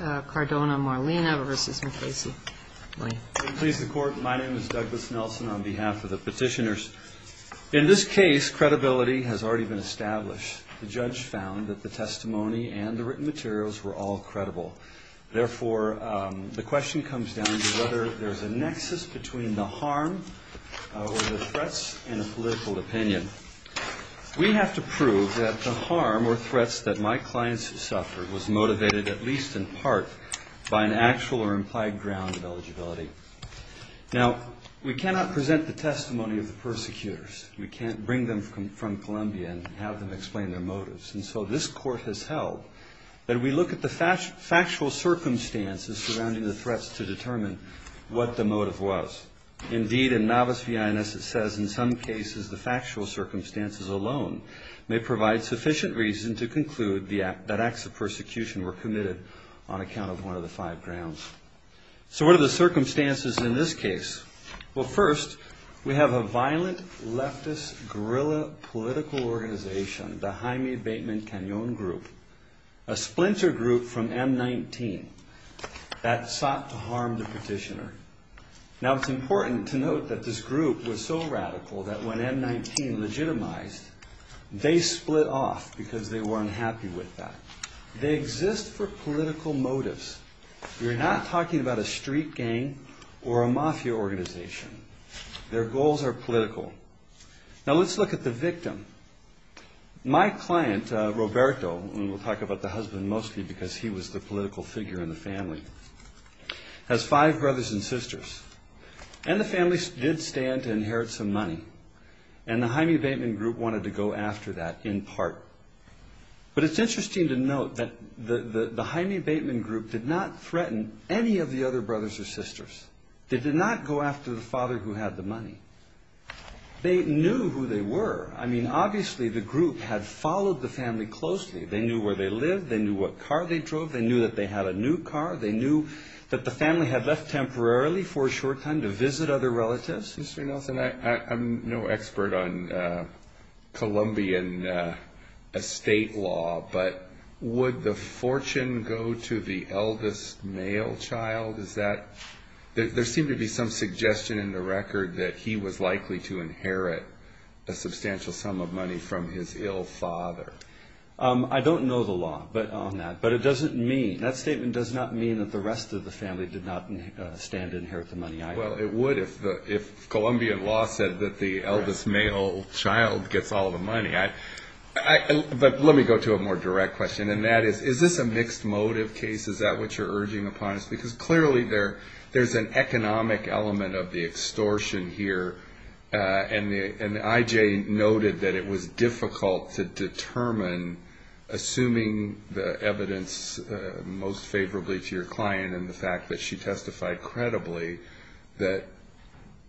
My name is Douglas Nelson on behalf of the petitioners. In this case credibility has already been established. The judge found that the testimony and the written materials were all credible. Therefore, the question comes down to whether there is a nexus between the harm or the threats in a political opinion. We have to prove that the harm or threats that my clients suffered was motivated at least in part by the credibility of the testimony. In part, by an actual or implied ground of eligibility. Now, we cannot present the testimony of the persecutors. We can't bring them from Colombia and have them explain their motives. And so this court has held that we look at the factual circumstances surrounding the threats to determine what the motive was. Indeed, in Novus Viennes it says in some cases the factual circumstances alone may provide sufficient reason to conclude that acts of persecution were committed on account of one of the five grounds. So what are the circumstances in this case? Well first, we have a violent leftist guerrilla political organization, the Jaime Bateman Cañon group. A splinter group from M-19 that sought to harm the petitioner. Now it's important to note that this group was so radical that when M-19 legitimized, they split off because they were unhappy with that. They exist for political motives. We're not talking about a street gang or a mafia organization. Their goals are political. Now let's look at the victim. My client, Roberto, and we'll talk about the husband mostly because he was the political figure in the family, has five brothers and sisters. And the family did stand to inherit some money. And the Jaime Bateman group wanted to go after that in part. But it's interesting to note that the Jaime Bateman group did not threaten any of the other brothers or sisters. They did not go after the father who had the money. They knew who they were. I mean, obviously the group had followed the family closely. They knew where they lived. They knew what car they drove. They knew that they had a new car. They knew that the family had left temporarily for a short time to visit other relatives. Mr. Nelson, I'm no expert on Colombian estate law, but would the fortune go to the eldest male child? Is that – there seemed to be some suggestion in the record that he was likely to inherit a substantial sum of money from his ill father. I don't know the law on that, but it doesn't mean – that statement does not mean that the rest of the family did not stand to inherit the money either. Well, it would if Colombian law said that the eldest male child gets all the money. But let me go to a more direct question. And that is, is this a mixed motive case? Is that what you're urging upon us? Because clearly there's an economic element of the extortion here. And I.J. noted that it was difficult to determine, assuming the evidence most favorably to your client and the fact that she testified credibly that,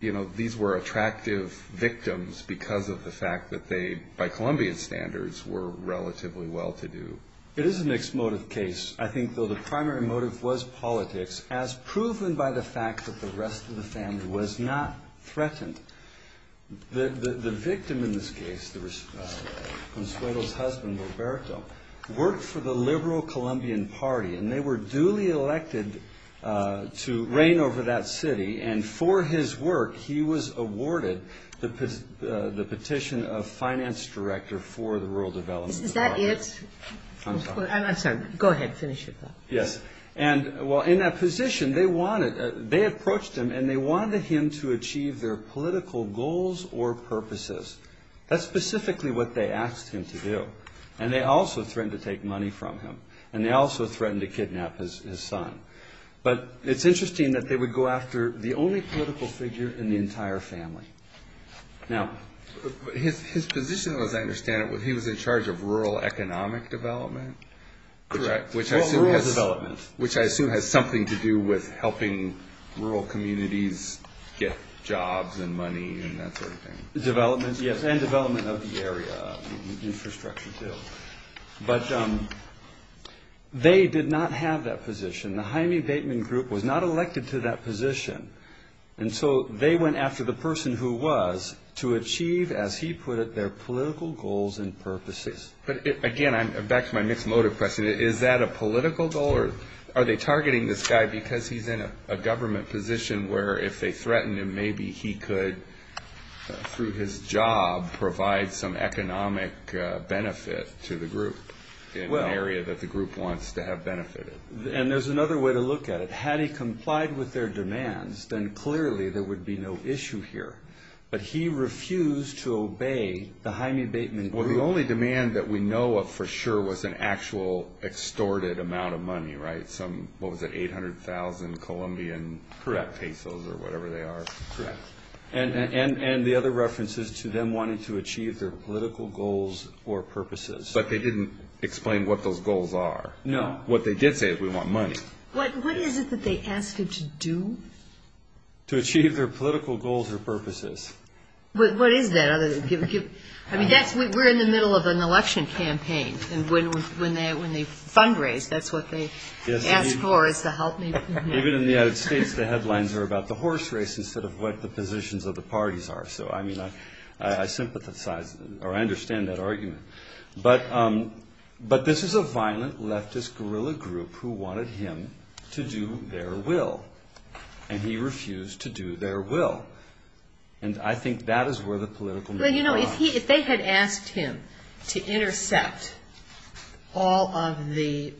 you know, these were attractive victims because of the fact that they, by Colombian standards, were relatively well-to-do. It is a mixed motive case. I think, though, the primary motive was politics, as proven by the fact that the rest of the family was not threatened. The victim in this case, Consuelo's husband, Roberto, worked for the liberal Colombian party, and they were duly elected to reign over that city. And for his work, he was awarded the petition of finance director for the rural development. Is that it? I'm sorry. I'm sorry. Go ahead. Finish your thought. Yes. And, well, in that position, they wanted, they approached him and they wanted him to achieve their political goals or purposes. That's specifically what they asked him to do. And they also threatened to take money from him. And they also threatened to kidnap his son. But it's interesting that they would go after the only political figure in the entire family. Now. His position, as I understand it, he was in charge of rural economic development? Correct. Which I assume has something to do with helping rural communities get jobs and money and that sort of thing. Yes. And development of the area. Infrastructure, too. But they did not have that position. The Jaime Bateman group was not elected to that position. And so they went after the person who was to achieve, as he put it, their political goals and purposes. But, again, back to my mixed motive question. Is that a political goal or are they targeting this guy because he's in a government position where if they threatened him, maybe he could, through his job, provide some economic benefit to the group in an area that the group wants to have benefited? And there's another way to look at it. Had he complied with their demands, then clearly there would be no issue here. But he refused to obey the Jaime Bateman group. Well, the only demand that we know of for sure was an actual extorted amount of money, right? Some, what was it, 800,000 Colombian pesos or whatever they are? Correct. And the other reference is to them wanting to achieve their political goals or purposes. But they didn't explain what those goals are. No. What they did say is we want money. What is it that they asked him to do? To achieve their political goals or purposes. What is that? I mean, we're in the middle of an election campaign and when they fundraise, that's what they ask for is to help. Even in the United States, the headlines are about the horse race instead of what the positions of the parties are. So, I mean, I sympathize or I understand that argument. But this is a violent leftist guerrilla group who wanted him to do their will. And he refused to do their will. And I think that is where the political... Well, you know, if they had asked him to intercept all of the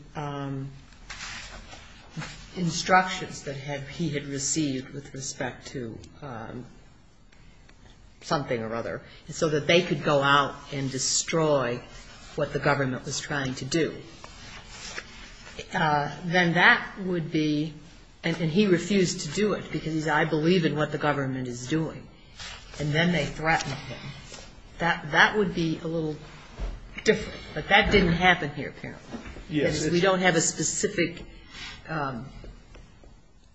instructions that he had received with respect to something or other so that they could go out and destroy what the government was trying to do, then that would be, and he refused to do it because he said, I believe in what the government is doing. And then they threatened him. That would be a little different. But that didn't happen here apparently. Because we don't have a specific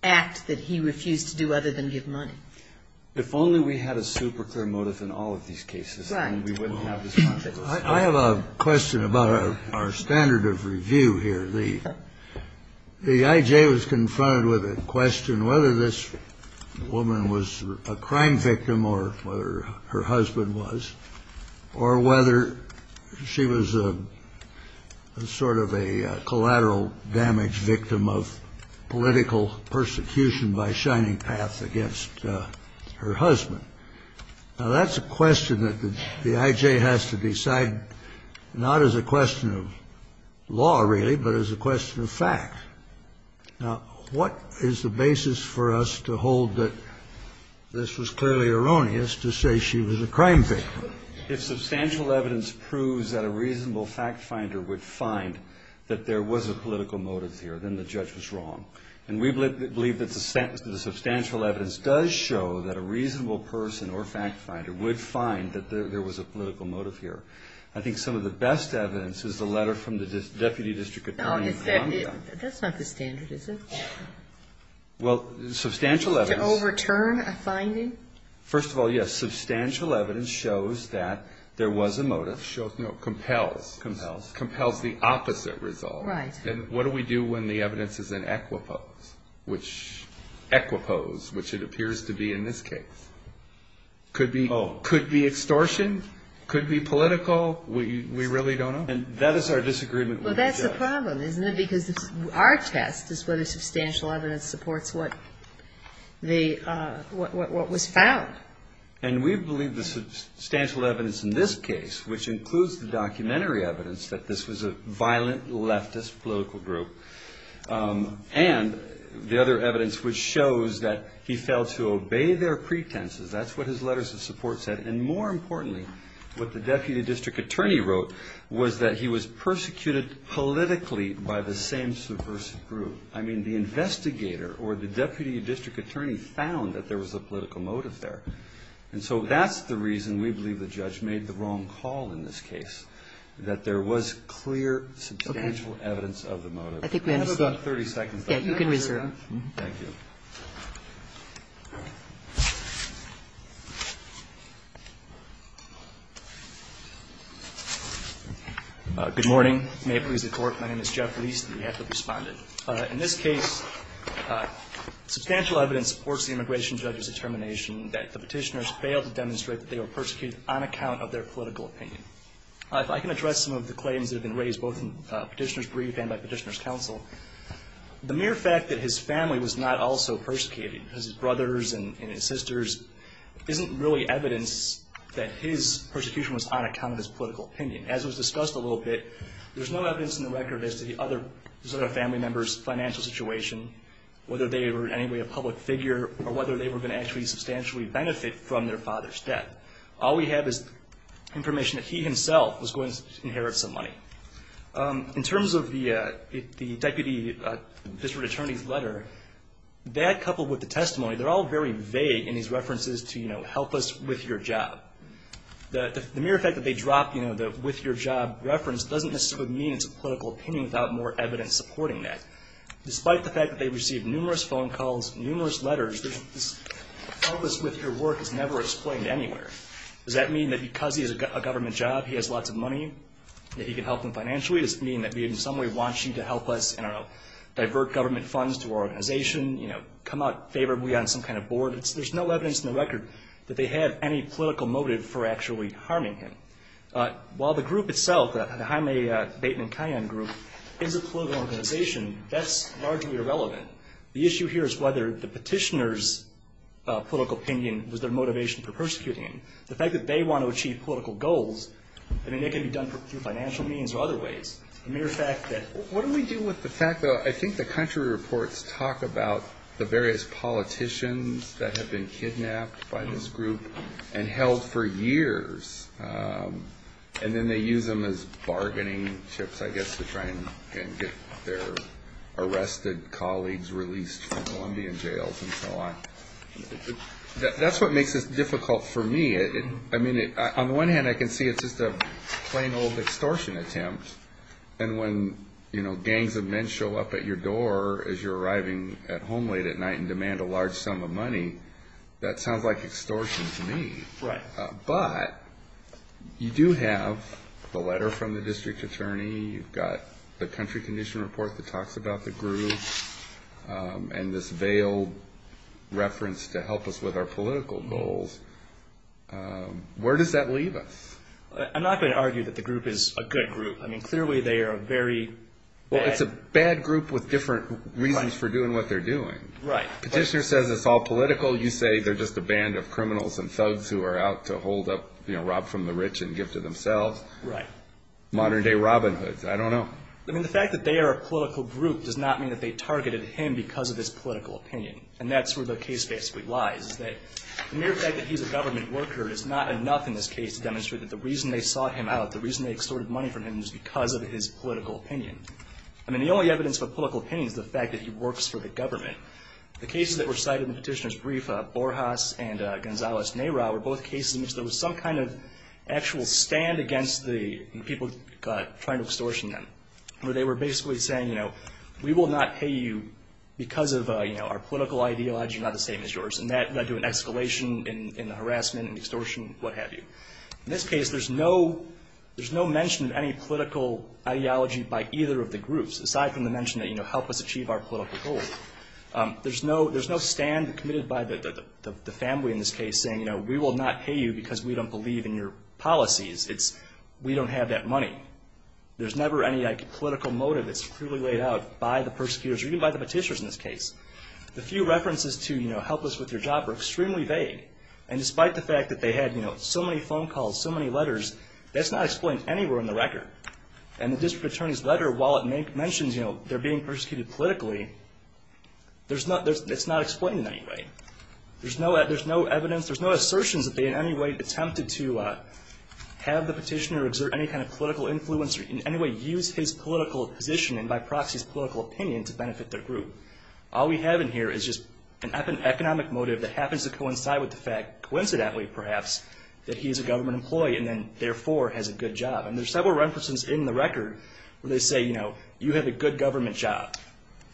act that he refused to do other than give money. If only we had a super clear motive in all of these cases, then we wouldn't have this controversy. I have a question about our standard of review here. The IJ was confronted with a question whether this woman was a crime victim or whether her husband was, or whether she was a sort of a collateral damage victim of political persecution by Shining Path against her husband. Now, that's a question that the IJ has to decide not as a question of law really, but as a question of fact. Now, what is the basis for us to hold that this was clearly erroneous to say she was a crime victim? If substantial evidence proves that a reasonable fact finder would find that there was a political motive here, then the judge was wrong. And we believe that the substantial evidence does show that a reasonable person or fact finder would find that there was a political motive here. I think some of the best evidence is the letter from the Deputy District Attorney. That's not the standard, is it? Well, substantial evidence. To overturn a finding? First of all, yes. Substantial evidence shows that there was a motive. No, compels. Compels. Compels the opposite result. Right. And what do we do when the evidence is an equipose, which it appears to be in this case? Could be extortion, could be political. We really don't know. And that is our disagreement with the judge. Well, that's the problem, isn't it? Because our test is whether substantial evidence supports what was found. And we believe the substantial evidence in this case, which includes the documentary evidence that this was a violent leftist political group, and the other evidence which shows that he failed to obey their pretenses. That's what his letters of support said. And more importantly, what the Deputy District Attorney wrote was that he was persecuted politically by the same subversive group. So, I mean, the investigator or the Deputy District Attorney found that there was a political motive there. And so that's the reason we believe the judge made the wrong call in this case, that there was clear substantial evidence of the motive. Okay. I think we have about 30 seconds left. Yeah, you can reserve. Thank you. Good morning. May it please the Court. My name is Jeff Leese, the de facto respondent. In this case, substantial evidence supports the immigration judge's determination that the Petitioner's failed to demonstrate that they were persecuted on account of their political opinion. If I can address some of the claims that have been raised, both in Petitioner's brief and by Petitioner's counsel. His brothers and his sisters isn't really evidence that his persecution was on account of his political opinion. As was discussed a little bit, there's no evidence in the record as to the other family members' financial situation, whether they were in any way a public figure or whether they were going to actually substantially benefit from their father's death. All we have is information that he himself was going to inherit some money. In terms of the Deputy District Attorney's letter, that coupled with the testimony, they're all very vague in his references to, you know, help us with your job. The mere fact that they dropped, you know, the with your job reference doesn't necessarily mean it's a political opinion without more evidence supporting that. Despite the fact that they received numerous phone calls, numerous letters, this help us with your work is never explained anywhere. Does that mean that because he has a government job, he has lots of money, that he can help them financially? Does it mean that he in some way wants you to help us, I don't know, divert government funds to our organization, you know, come out favorably on some kind of board? There's no evidence in the record that they had any political motive for actually harming him. While the group itself, the Jaime Bateman Kayan group, is a political organization, that's largely irrelevant. The issue here is whether the petitioner's political opinion was their motivation for persecuting him. The fact that they want to achieve political goals, I mean, it can be done through financial means or other ways. The mere fact that... What do we do with the fact that I think the country reports talk about the various politicians that have been kidnapped by this group and held for years, and then they use them as bargaining chips, I guess, to try and get their arrested colleagues released from Colombian jails and so on. That's what makes this difficult for me. I mean, on the one hand, I can see it's just a plain old extortion attempt. And when, you know, gangs of men show up at your door as you're arriving at home late at night and demand a large sum of money, that sounds like extortion to me. But you do have the letter from the district attorney. You've got the country condition report that talks about the group. And this veiled reference to help us with our political goals. Where does that leave us? I'm not going to argue that the group is a good group. I mean, clearly they are a very bad... Well, it's a bad group with different reasons for doing what they're doing. Right. Petitioner says it's all political. You say they're just a band of criminals and thugs who are out to hold up, you know, rob from the rich and give to themselves. Right. Modern-day Robin Hoods. I don't know. I mean, the fact that they are a political group does not mean that they targeted him because of his political opinion. And that's where the case basically lies, is that the mere fact that he's a government worker is not enough in this case to demonstrate that the reason they sought him out, the reason they extorted money from him, is because of his political opinion. I mean, the only evidence of a political opinion is the fact that he works for the government. The cases that were cited in Petitioner's brief, Borjas and Gonzales-Neira, were both cases in which there was some kind of actual stand against the people trying to extortion them, where they were basically saying, you know, we will not pay you because of our political ideology, not the same as yours, and that led to an escalation in the harassment and extortion, what have you. In this case, there's no mention of any political ideology by either of the groups, aside from the mention that, you know, help us achieve our political goals. There's no stand committed by the family in this case saying, you know, we will not pay you because we don't believe in your policies. It's we don't have that money. There's never any, like, political motive that's clearly laid out by the persecutors or even by the Petitioners in this case. The few references to, you know, help us with your job are extremely vague. And despite the fact that they had, you know, so many phone calls, so many letters, that's not explained anywhere in the record. And the District Attorney's letter, while it mentions, you know, they're being persecuted politically, it's not explained in any way. There's no evidence, there's no assertions that they in any way attempted to have the Petitioner exert any kind of political influence or in any way use his political position and by proxy his political opinion to benefit their group. All we have in here is just an economic motive that happens to coincide with the fact, coincidentally perhaps, that he's a government employee and then therefore has a good job. And there's several references in the record where they say, you know, you have a good government job.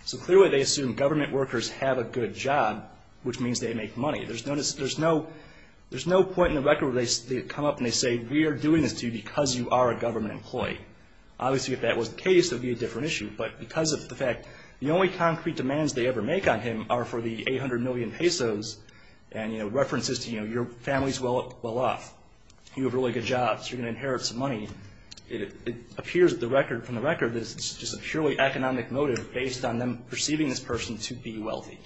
So clearly they assume government workers have a good job, which means they make money. There's no point in the record where they come up and they say, we are doing this to you because you are a government employee. Obviously, if that was the case, it would be a different issue. But because of the fact, the only concrete demands they ever make on him are for the 800 million pesos and, you know, references to, you know, your family's well off, you have a really good job, so you're going to inherit some money. It appears from the record that it's just a purely economic motive based on them perceiving this person to be wealthy.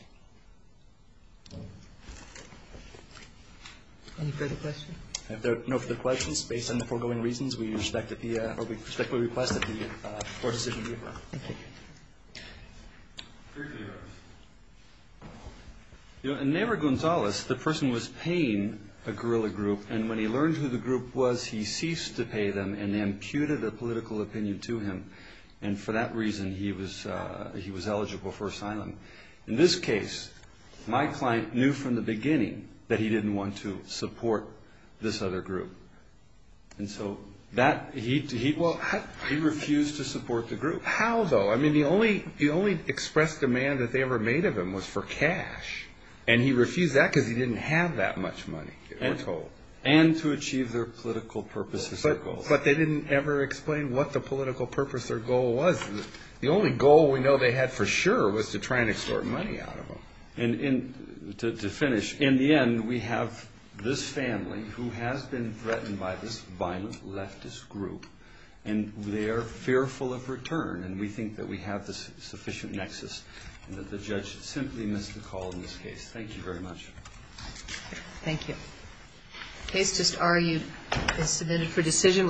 Any further questions? If there are no further questions, based on the foregoing reasons, we respectfully request that the court decision be adjourned. In Neyra Gonzalez, the person was paying a guerrilla group, and when he learned who the group was, he ceased to pay them and imputed a political opinion to him. And for that reason, he was eligible for asylum. In this case, my client knew from the beginning that he didn't want to support this other group. And so he refused to support the group. How, though? I mean, the only express demand that they ever made of him was for cash, and he refused that because he didn't have that much money, we're told. And to achieve their political purposes. But they didn't ever explain what the political purpose or goal was. The only goal we know they had for sure was to try and extort money out of him. And to finish, in the end, we have this family who has been threatened by this violent leftist group, and they are fearful of return, and we think that we have the sufficient nexus and that the judge simply missed the call in this case. Thank you very much. Thank you. The case just argued is submitted for decision.